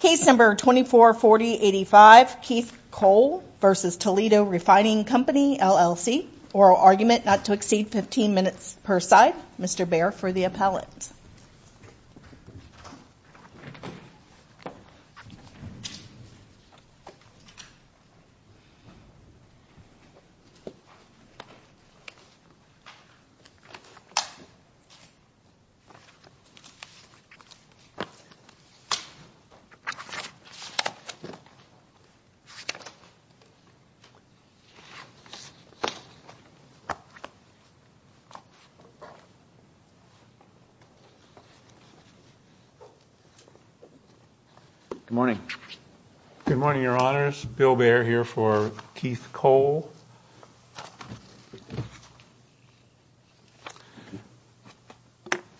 Case No. 244085, Keith Cole v. Toledo Refining Company, LLC Oral argument not to exceed 15 minutes per side Mr. Baer for the appellate Good morning. Good morning, Your Honors. Bill Baer here for Keith Cole.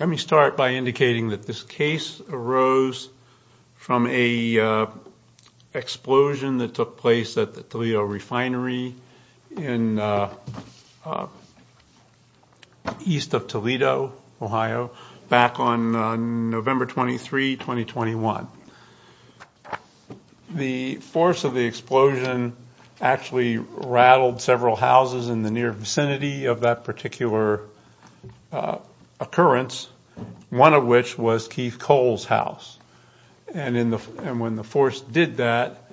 Let me start by indicating that this case arose from a explosion that took place at the Toledo refinery in east of Toledo, Ohio, back on November 23, 2021. The force of the explosion actually rattled several houses in the near vicinity of that particular occurrence, one of which was Keith Cole's house. And when the force did that,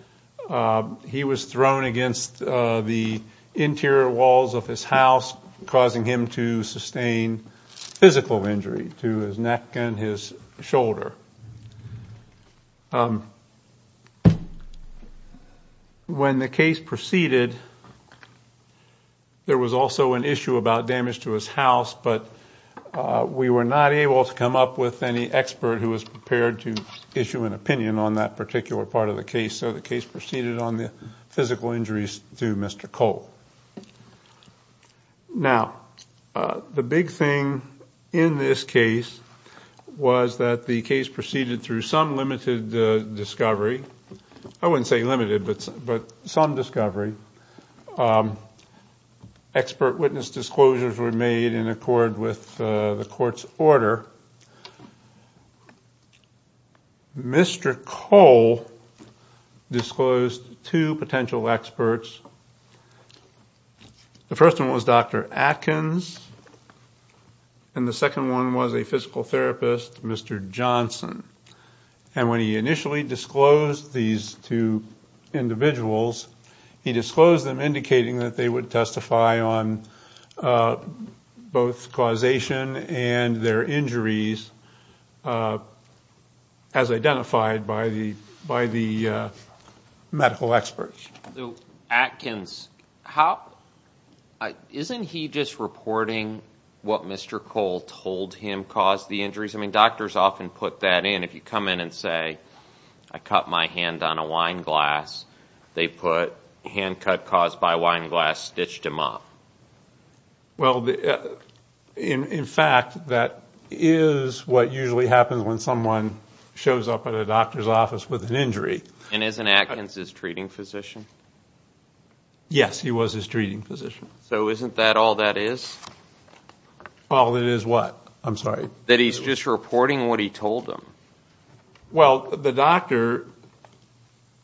he was thrown against the interior walls of his house, causing him to sustain physical injury to his neck and his shoulder. When the case proceeded, there was also an issue about damage to his house, but we were not able to come up with any expert who was prepared to issue an opinion on that particular part of the case, so the case proceeded on the physical injuries to Mr. Cole. Now, the big thing in this case was that the case proceeded through some limited discovery. I wouldn't say limited, but some discovery. Some expert witness disclosures were made in accord with the court's order. Mr. Cole disclosed two potential experts. The first one was Dr. Atkins, and the second one was a physical therapist, Mr. Johnson. And when he initially disclosed these two individuals, he disclosed them indicating that they would testify on both causation and their injuries as identified by the medical experts. So Atkins, isn't he just reporting what Mr. Cole told him caused the injuries? I mean, doctors often put that in. If you come in and say, I cut my hand on a wine glass, they put, hand cut caused by a wine glass stitched him up. Well, in fact, that is what usually happens when someone shows up at a doctor's office with an injury. And isn't Atkins his treating physician? Yes, he was his treating physician. So isn't that all that is? Well, it is what? I'm sorry. That he's just reporting what he told them. Well, the doctor,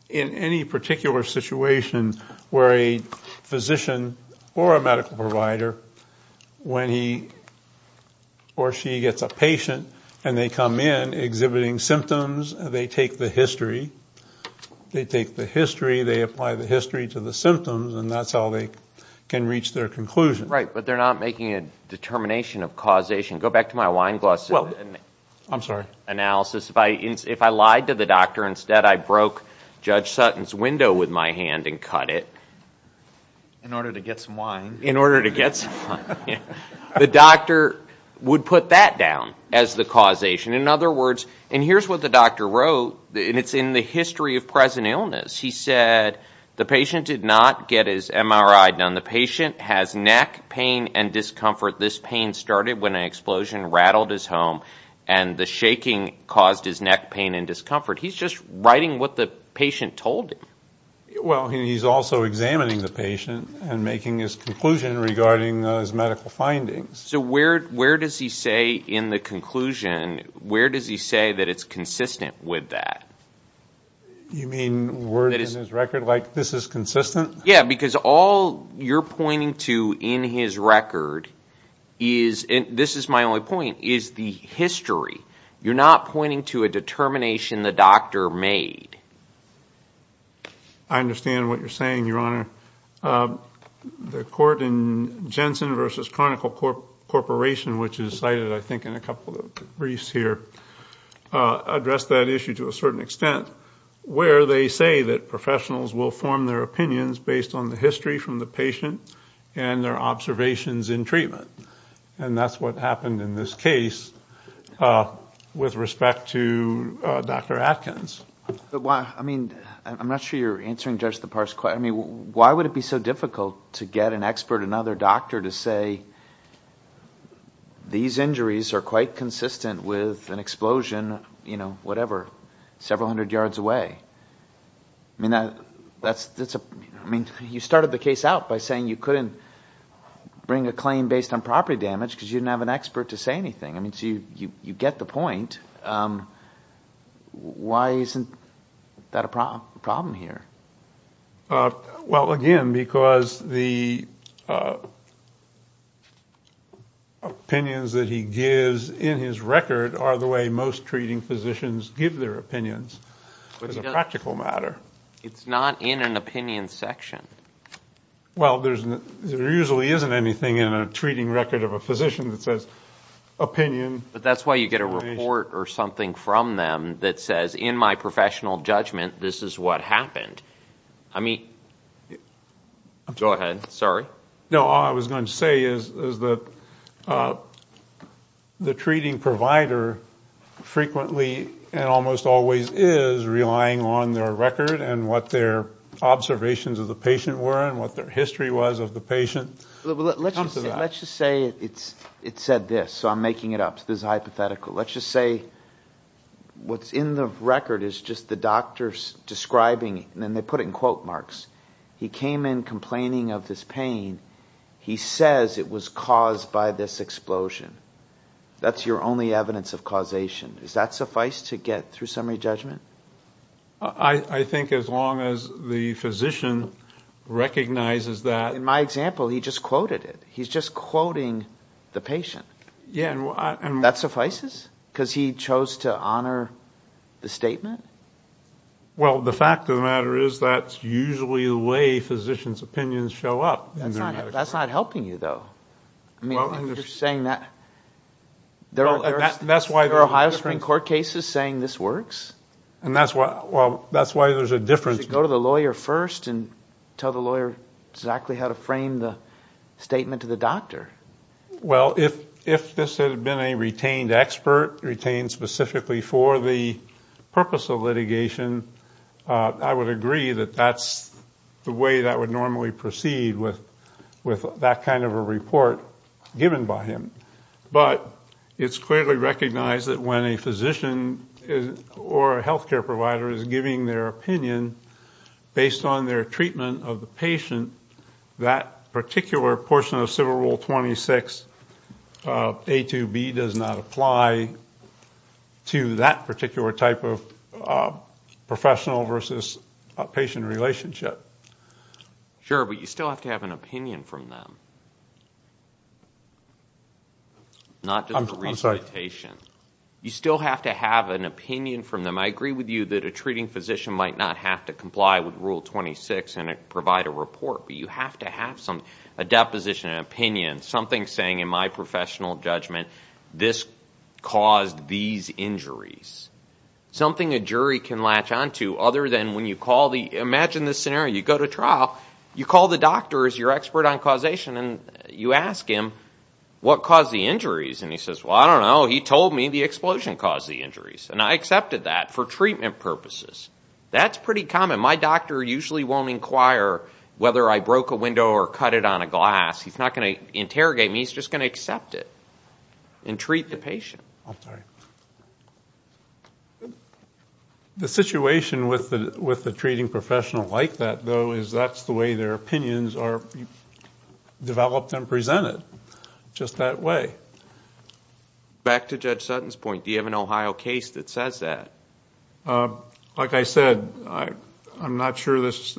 in any particular situation where a physician or a medical provider, when he or she gets a patient and they come in exhibiting symptoms, they take the history. They take the history, they apply the history to the symptoms, and that's how they can reach their conclusion. Right, but they're not making a determination of causation. Go back to my wine glass analysis. I'm sorry. Analysis, if I lied to the doctor, instead I broke Judge Sutton's window with my hand and cut it. In order to get some wine. In order to get some wine. The doctor would put that down as the causation. In other words, and here's what the doctor wrote, and it's in the history of present illness. He said the patient did not get his MRI done. The patient has neck pain and discomfort. This pain started when an explosion rattled his home, and the shaking caused his neck pain and discomfort. He's just writing what the patient told him. Well, he's also examining the patient and making his conclusion regarding his medical findings. So where does he say in the conclusion, where does he say that it's consistent with that? You mean word in his record, like this is consistent? Yeah, because all you're pointing to in his record is, and this is my only point, is the history. You're not pointing to a determination the doctor made. I understand what you're saying, Your Honor. The court in Jensen v. Chronicle Corporation, which is cited I think in a couple of briefs here, addressed that issue to a certain extent where they say that professionals will form their opinions based on the history from the patient and their observations in treatment, and that's what happened in this case with respect to Dr. Atkins. I mean, I'm not sure you're answering Judge Lepar's question. I mean, why would it be so difficult to get an expert, another doctor, to say, these injuries are quite consistent with an explosion, you know, whatever, several hundred yards away? I mean, you started the case out by saying you couldn't bring a claim based on property damage because you didn't have an expert to say anything. I mean, so you get the point. Why isn't that a problem here? Well, again, because the opinions that he gives in his record are the way most treating physicians give their opinions. It's a practical matter. It's not in an opinion section. Well, there usually isn't anything in a treating record of a physician that says opinion. But that's why you get a report or something from them that says, in my professional judgment, this is what happened. I mean, go ahead. Sorry. No, all I was going to say is that the treating provider frequently and almost always is relying on their record and what their observations of the patient were and what their history was of the patient. Let's just say it said this, so I'm making it up. This is hypothetical. Let's just say what's in the record is just the doctor's describing it, and they put it in quote marks. He came in complaining of this pain. He says it was caused by this explosion. That's your only evidence of causation. Does that suffice to get through summary judgment? I think as long as the physician recognizes that. In my example, he just quoted it. He's just quoting the patient. That suffices? Because he chose to honor the statement? Well, the fact of the matter is that's usually the way physicians' opinions show up in their medical records. That's not helping you, though. You're saying that there are Ohio Supreme Court cases saying this works? That's why there's a difference. Does it go to the lawyer first and tell the lawyer exactly how to frame the statement to the doctor? Well, if this had been a retained expert, retained specifically for the purpose of litigation, I would agree that that's the way that would normally proceed with that kind of a report given by him. But it's clearly recognized that when a physician or a health care provider is giving their opinion based on their treatment of the patient, that particular portion of Civil Rule 26, A to B, does not apply to that particular type of professional versus patient relationship. Sure, but you still have to have an opinion from them, not just a recitation. You still have to have an opinion from them. I agree with you that a treating physician might not have to comply with Rule 26 and provide a report, but you have to have a deposition, an opinion, something saying, in my professional judgment, this caused these injuries. Something a jury can latch onto other than when you call the – imagine this scenario. You go to trial. You call the doctor as your expert on causation, and you ask him, what caused the injuries? And he says, well, I don't know. He told me the explosion caused the injuries. And I accepted that for treatment purposes. That's pretty common. My doctor usually won't inquire whether I broke a window or cut it on a glass. He's not going to interrogate me. He's just going to accept it and treat the patient. I'm sorry. The situation with the treating professional like that, though, is that's the way their opinions are developed and presented, just that way. Back to Judge Sutton's point, do you have an Ohio case that says that? Like I said, I'm not sure this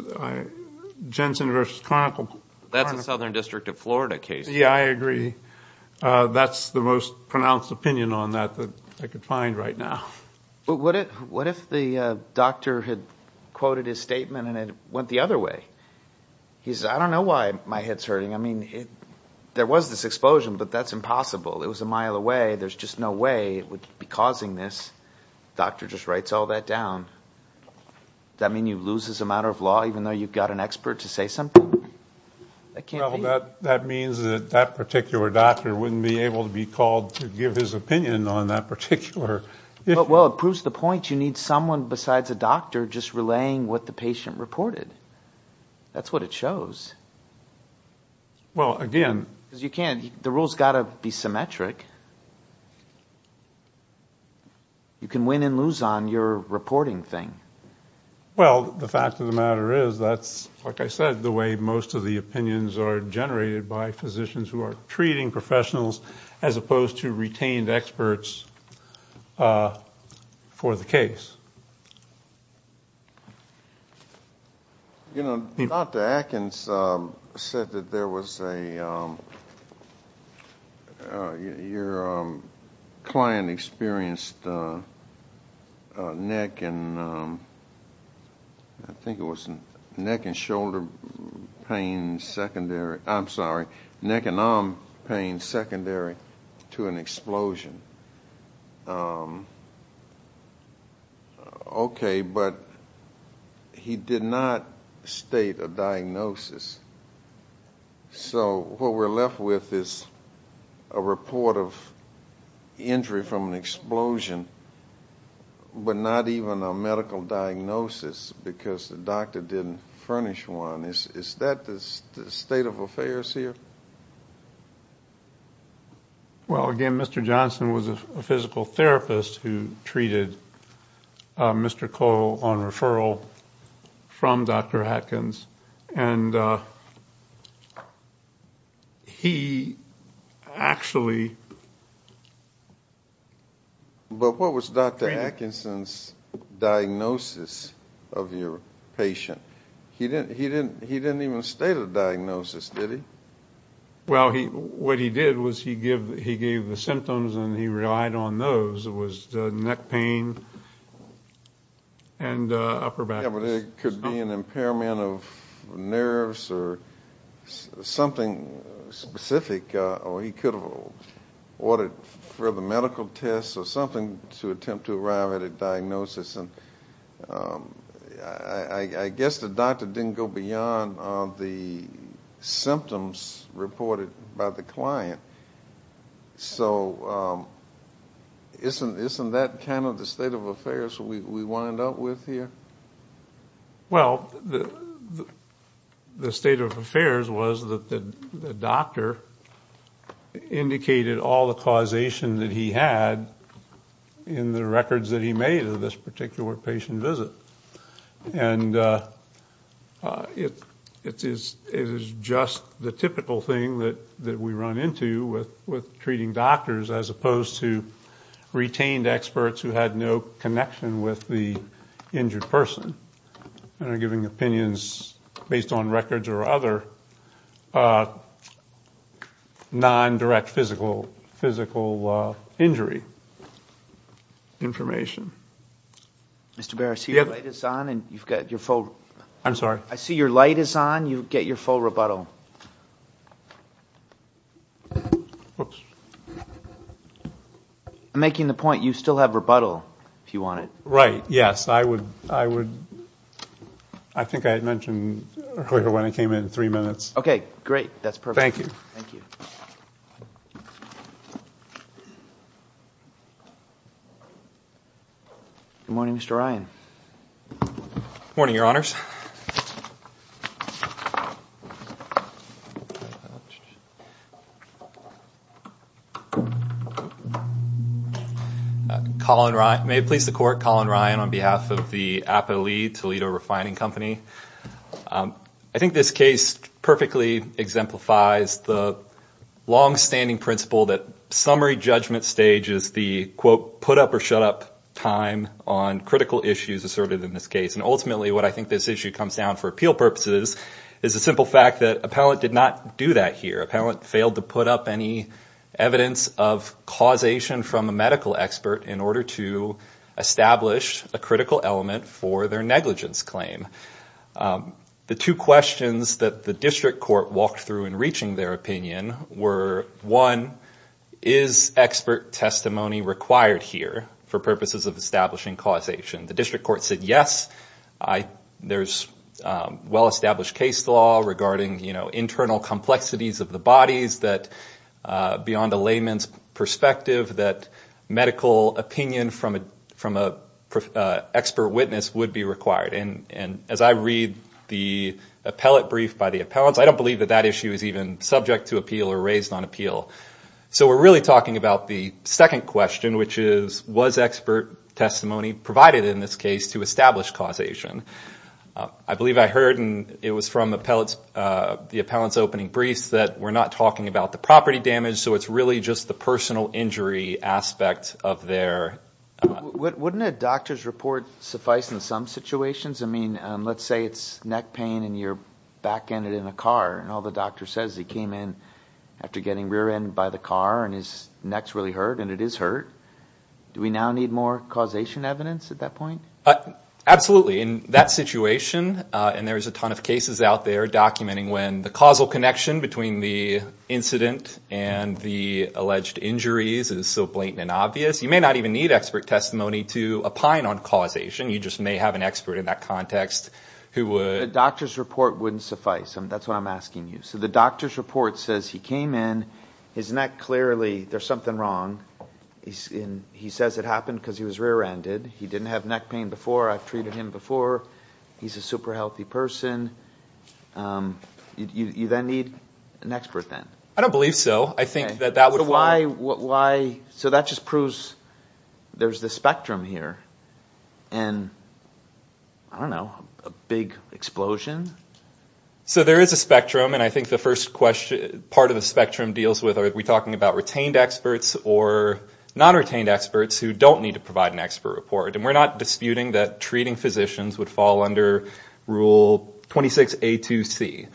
– Jensen v. Chronicle. That's a Southern District of Florida case. Yeah, I agree. That's the most pronounced opinion on that that I could find right now. What if the doctor had quoted his statement and it went the other way? He said, I don't know why my head's hurting. I mean, there was this explosion, but that's impossible. It was a mile away. There's just no way it would be causing this. The doctor just writes all that down. Does that mean you lose as a matter of law even though you've got an expert to say something? That means that that particular doctor wouldn't be able to be called to give his opinion on that particular issue. Well, it proves the point. You need someone besides a doctor just relaying what the patient reported. That's what it shows. Because you can't – the rule's got to be symmetric. You can win and lose on your reporting thing. Well, the fact of the matter is that's, like I said, the way most of the opinions are generated by physicians who are treating professionals as opposed to retained experts for the case. Dr. Atkins said that there was a – your client experienced neck and – I think it was neck and shoulder pain secondary. I'm sorry, neck and arm pain secondary to an explosion. Okay, but he did not state a diagnosis. So what we're left with is a report of injury from an explosion but not even a medical diagnosis because the doctor didn't furnish one. Is that the state of affairs here? Well, again, Mr. Johnson was a physical therapist who treated Mr. Cole on referral from Dr. Atkins. And he actually – But what was Dr. Atkinson's diagnosis of your patient? He didn't even state a diagnosis, did he? Well, what he did was he gave the symptoms and he relied on those. It was neck pain and upper back. Yeah, but it could be an impairment of nerves or something specific, or he could have ordered further medical tests or something to attempt to arrive at a diagnosis. And I guess the doctor didn't go beyond the symptoms reported by the client. So isn't that kind of the state of affairs we wind up with here? Well, the state of affairs was that the doctor indicated all the causation that he had in the records that he made of this particular patient visit. And it is just the typical thing that we run into with treating doctors as opposed to retained experts who had no connection with the injured person and are giving opinions based on records or other non-direct physical injury information. Mr. Baer, I see your light is on. I'm sorry? I see your light is on. You get your full rebuttal. I'm making the point you still have rebuttal if you want it. Right, yes. I think I had mentioned earlier when I came in, three minutes. Okay, great. That's perfect. Good morning, Mr. Ryan. Good morning, Your Honors. May it please the Court, Colin Ryan on behalf of the APALE, Toledo Refining Company. I think this case perfectly exemplifies the long-standing principle that summary judgment stage is the, quote, put-up-or-shut-up time on critical issues asserted in this case. And ultimately, what I think this is is a summary judgment stage when this issue comes down for appeal purposes is the simple fact that appellant did not do that here. Appellant failed to put up any evidence of causation from a medical expert in order to establish a critical element for their negligence claim. The two questions that the district court walked through in reaching their opinion were, one, is expert testimony required here for purposes of establishing causation? The district court said, yes, there's well-established case law regarding internal complexities of the bodies beyond the layman's perspective that medical opinion from an expert witness would be required. And as I read the appellate brief by the appellants, I don't believe that that issue is even subject to appeal or raised on appeal. So we're really talking about the second question, which is, was expert testimony provided in this case to establish causation? I believe I heard, and it was from the appellant's opening briefs, that we're not talking about the property damage, so it's really just the personal injury aspect of their— Wouldn't a doctor's report suffice in some situations? I mean, let's say it's neck pain and you're back-ended in a car, and all the doctor says is he came in after getting rear-ended by the car and his neck's really hurt, and it is hurt. Do we now need more causation evidence at that point? Absolutely. In that situation, and there's a ton of cases out there documenting when the causal connection between the incident and the alleged injuries is so blatant and obvious, you may not even need expert testimony to opine on causation. You just may have an expert in that context who would— A doctor's report wouldn't suffice. That's what I'm asking you. So the doctor's report says he came in, his neck clearly—there's something wrong. He says it happened because he was rear-ended. He didn't have neck pain before. I've treated him before. He's a super healthy person. You then need an expert then. I don't believe so. I think that that would fall— So why—so that just proves there's this spectrum here, and, I don't know, a big explosion? So there is a spectrum, and I think the first part of the spectrum deals with, are we talking about retained experts or non-retained experts who don't need to provide an expert report? And we're not disputing that treating physicians would fall under Rule 26A2C.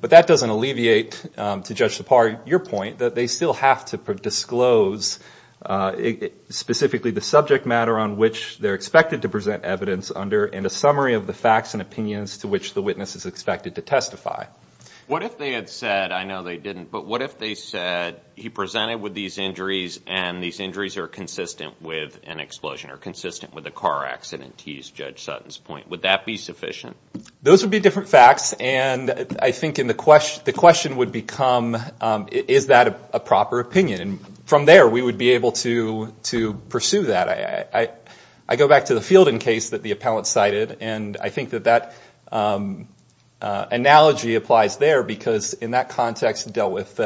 But that doesn't alleviate, to Judge Sipar, your point that they still have to disclose, specifically the subject matter on which they're expected to present evidence under, and a summary of the facts and opinions to which the witness is expected to testify. What if they had said—I know they didn't, but what if they said he presented with these injuries, and these injuries are consistent with an explosion or consistent with a car accident, to use Judge Sutton's point? Would that be sufficient? Those would be different facts, and I think the question would become, is that a proper opinion? And from there, we would be able to pursue that. I go back to the Fielding case that the appellant cited, and I think that that analogy applies there, because in that context it dealt with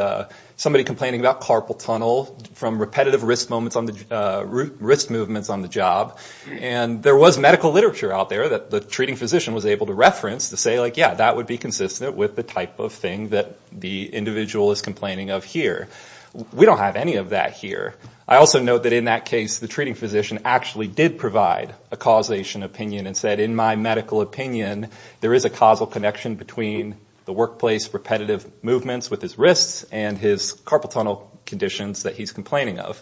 somebody complaining about carpal tunnel from repetitive wrist movements on the job. And there was medical literature out there that the treating physician was able to reference to say, yeah, that would be consistent with the type of thing that the individual is complaining of here. We don't have any of that here. I also note that in that case, the treating physician actually did provide a causation opinion and said in my medical opinion, there is a causal connection between the workplace repetitive movements with his wrists and his carpal tunnel conditions that he's complaining of.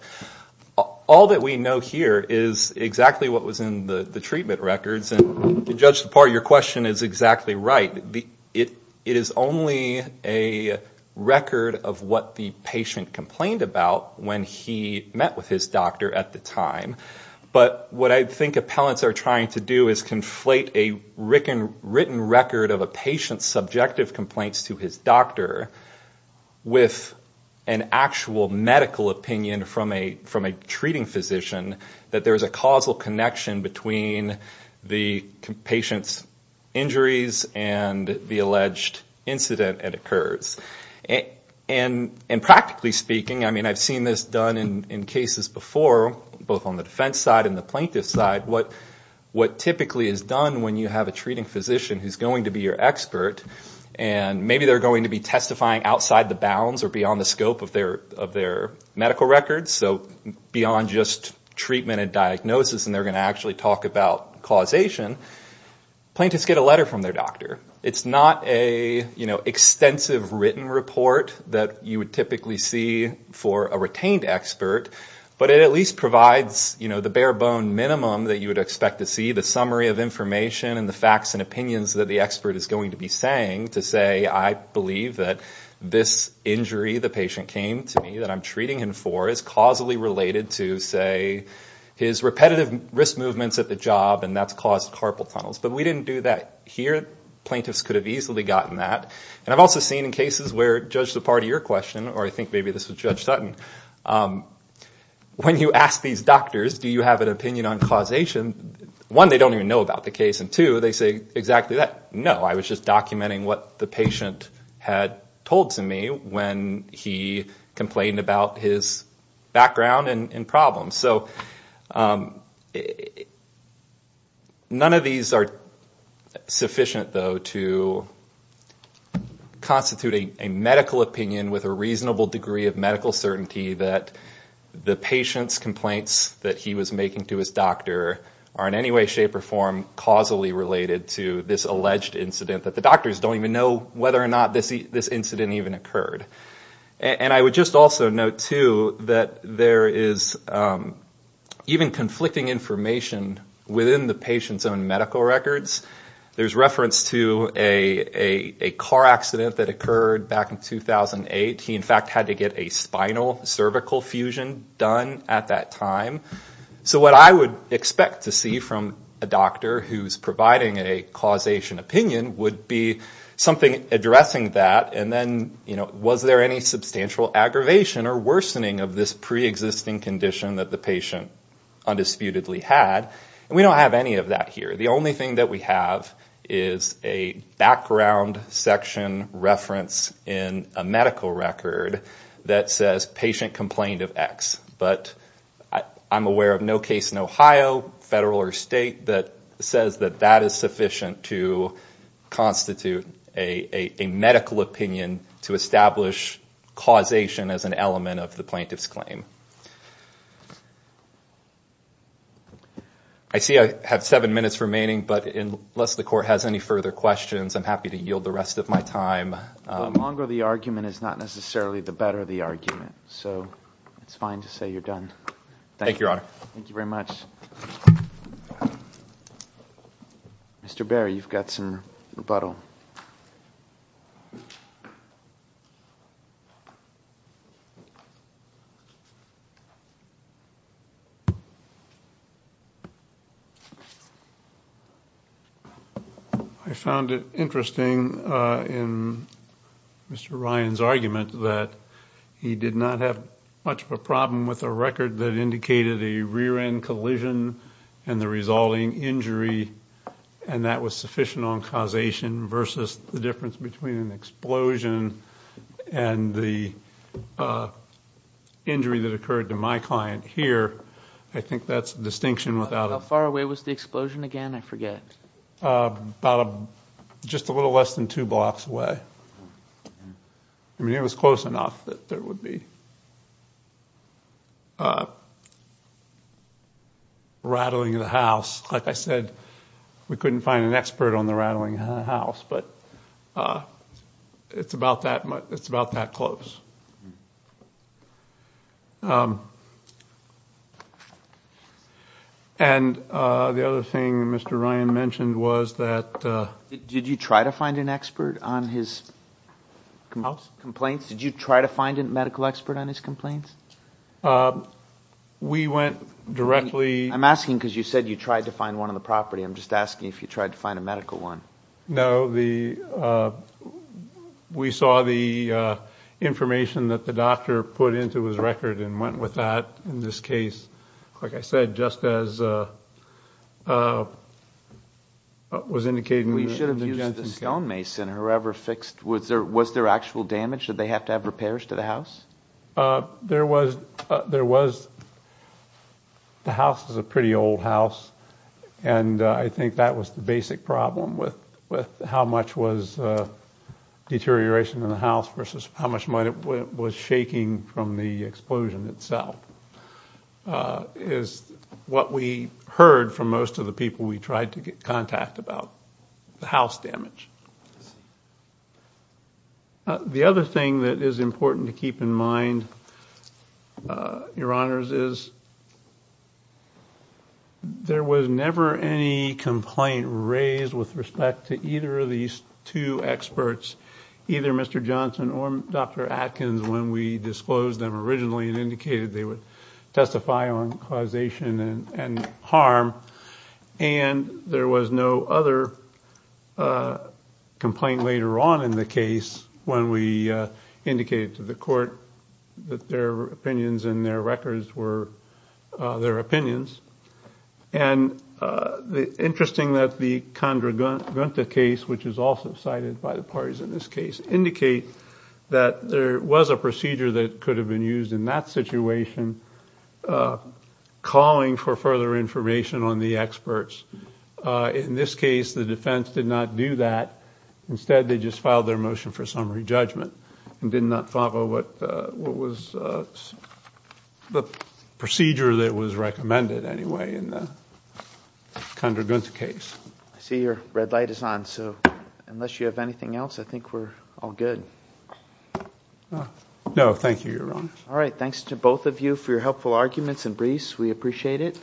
All that we know here is exactly what was in the treatment records, and Judge DePauw, your question is exactly right. It is only a record of what the patient complained about when he met with his doctor at the time. But what I think appellants are trying to do is conflate a written record of a patient's subjective complaints to his doctor with an actual medical opinion from a treating physician, that there is a causal connection between the patient's injuries and the alleged incident that occurs. And practically speaking, I mean, I've seen this done in cases before, both on the defense side and the plaintiff side, what typically is done when you have a treating physician who's going to be your expert, and maybe they're going to be testifying outside the bounds or beyond the scope of their medical records, so beyond just treatment and diagnosis and they're going to actually talk about causation, plaintiffs get a letter from their doctor. It's not an extensive written report that you would typically see for a retained expert, but it at least provides the bare bone minimum that you would expect to see, the summary of information and the facts and opinions that the expert is going to be saying to say, I believe that this injury the patient came to me, that I'm treating him for, is causally related to, say, his repetitive wrist movements at the job and that's caused carpal tunnels. But we didn't do that here. Plaintiffs could have easily gotten that. And I've also seen in cases where, to judge the part of your question, or I think maybe this was Judge Sutton, when you ask these doctors, do you have an opinion on causation, one, they don't even know about the case, and two, they say exactly that, no, I was just documenting what the patient had told to me when he complained about his background and problems. So none of these are sufficient, though, to constitute a medical opinion with a reasonable degree of medical certainty that the patient's complaints that he was making to his doctor are in any way, shape or form, causally related to this alleged incident, that the doctors don't even know whether or not this incident even occurred. And I would just also note, too, that there is even conflicting information within the patient's own medical records. There's reference to a car accident that occurred back in 2008. He, in fact, had to get a spinal-cervical fusion done at that time. So what I would expect to see from a doctor who's providing a causation opinion would be something addressing that, and then was there any substantial aggravation or worsening of this preexisting condition that the patient undisputedly had. And we don't have any of that here. The only thing that we have is a background section reference in a medical record that says patient complained of X. But I'm aware of no case in Ohio, federal or state, that says that that is sufficient to constitute a medical opinion to establish causation as an element of the plaintiff's claim. I see I have seven minutes remaining, but unless the court has any further questions, I'm happy to yield the rest of my time. The longer the argument is not necessarily the better the argument, so it's fine to say you're done. Thank you, Your Honor. Thank you very much. Mr. Berry, you've got some rebuttal. I found it interesting in Mr. Ryan's argument that he did not have much of a problem with a record that indicated a rear-end collision and the resulting injury, and that was sufficient on causation versus the difference between an explosion and the injury that occurred to my client here. I think that's a distinction without a... How far away was the explosion again? I forget. About just a little less than two blocks away. I mean, it was close enough that there would be rattling of the house. Like I said, we couldn't find an expert on the rattling of the house, but it's about that close. And the other thing Mr. Ryan mentioned was that... Did you try to find an expert on his complaints? Did you try to find a medical expert on his complaints? We went directly... I'm asking because you said you tried to find one on the property. I'm just asking if you tried to find a medical one. No, we saw the information that the doctor put into his record and went with that in this case. Like I said, just as was indicated... We should have used the stone mason or whoever fixed... Was there actual damage? Did they have to have repairs to the house? There was. The house is a pretty old house, and I think that was the basic problem with how much was deterioration in the house versus how much was shaking from the explosion itself. It's what we heard from most of the people we tried to get contact about, the house damage. The other thing that is important to keep in mind, Your Honors, is... There was never any complaint raised with respect to either of these two experts, either Mr. Johnson or Dr. Atkins, when we disclosed them originally and indicated they would testify on causation and harm. There was no other complaint later on in the case when we indicated to the court that their opinions and their records were their opinions. It's interesting that the Condragunta case, which is also cited by the parties in this case, indicates that there was a procedure that could have been used in that situation, calling for further information on the experts. In this case, the defense did not do that. Instead, they just filed their motion for summary judgment and did not follow what was the procedure that was recommended, anyway, in the Condragunta case. I see your red light is on, so unless you have anything else, I think we're all good. No, thank you, Your Honors. All right, thanks to both of you for your helpful arguments and briefs. We appreciate it.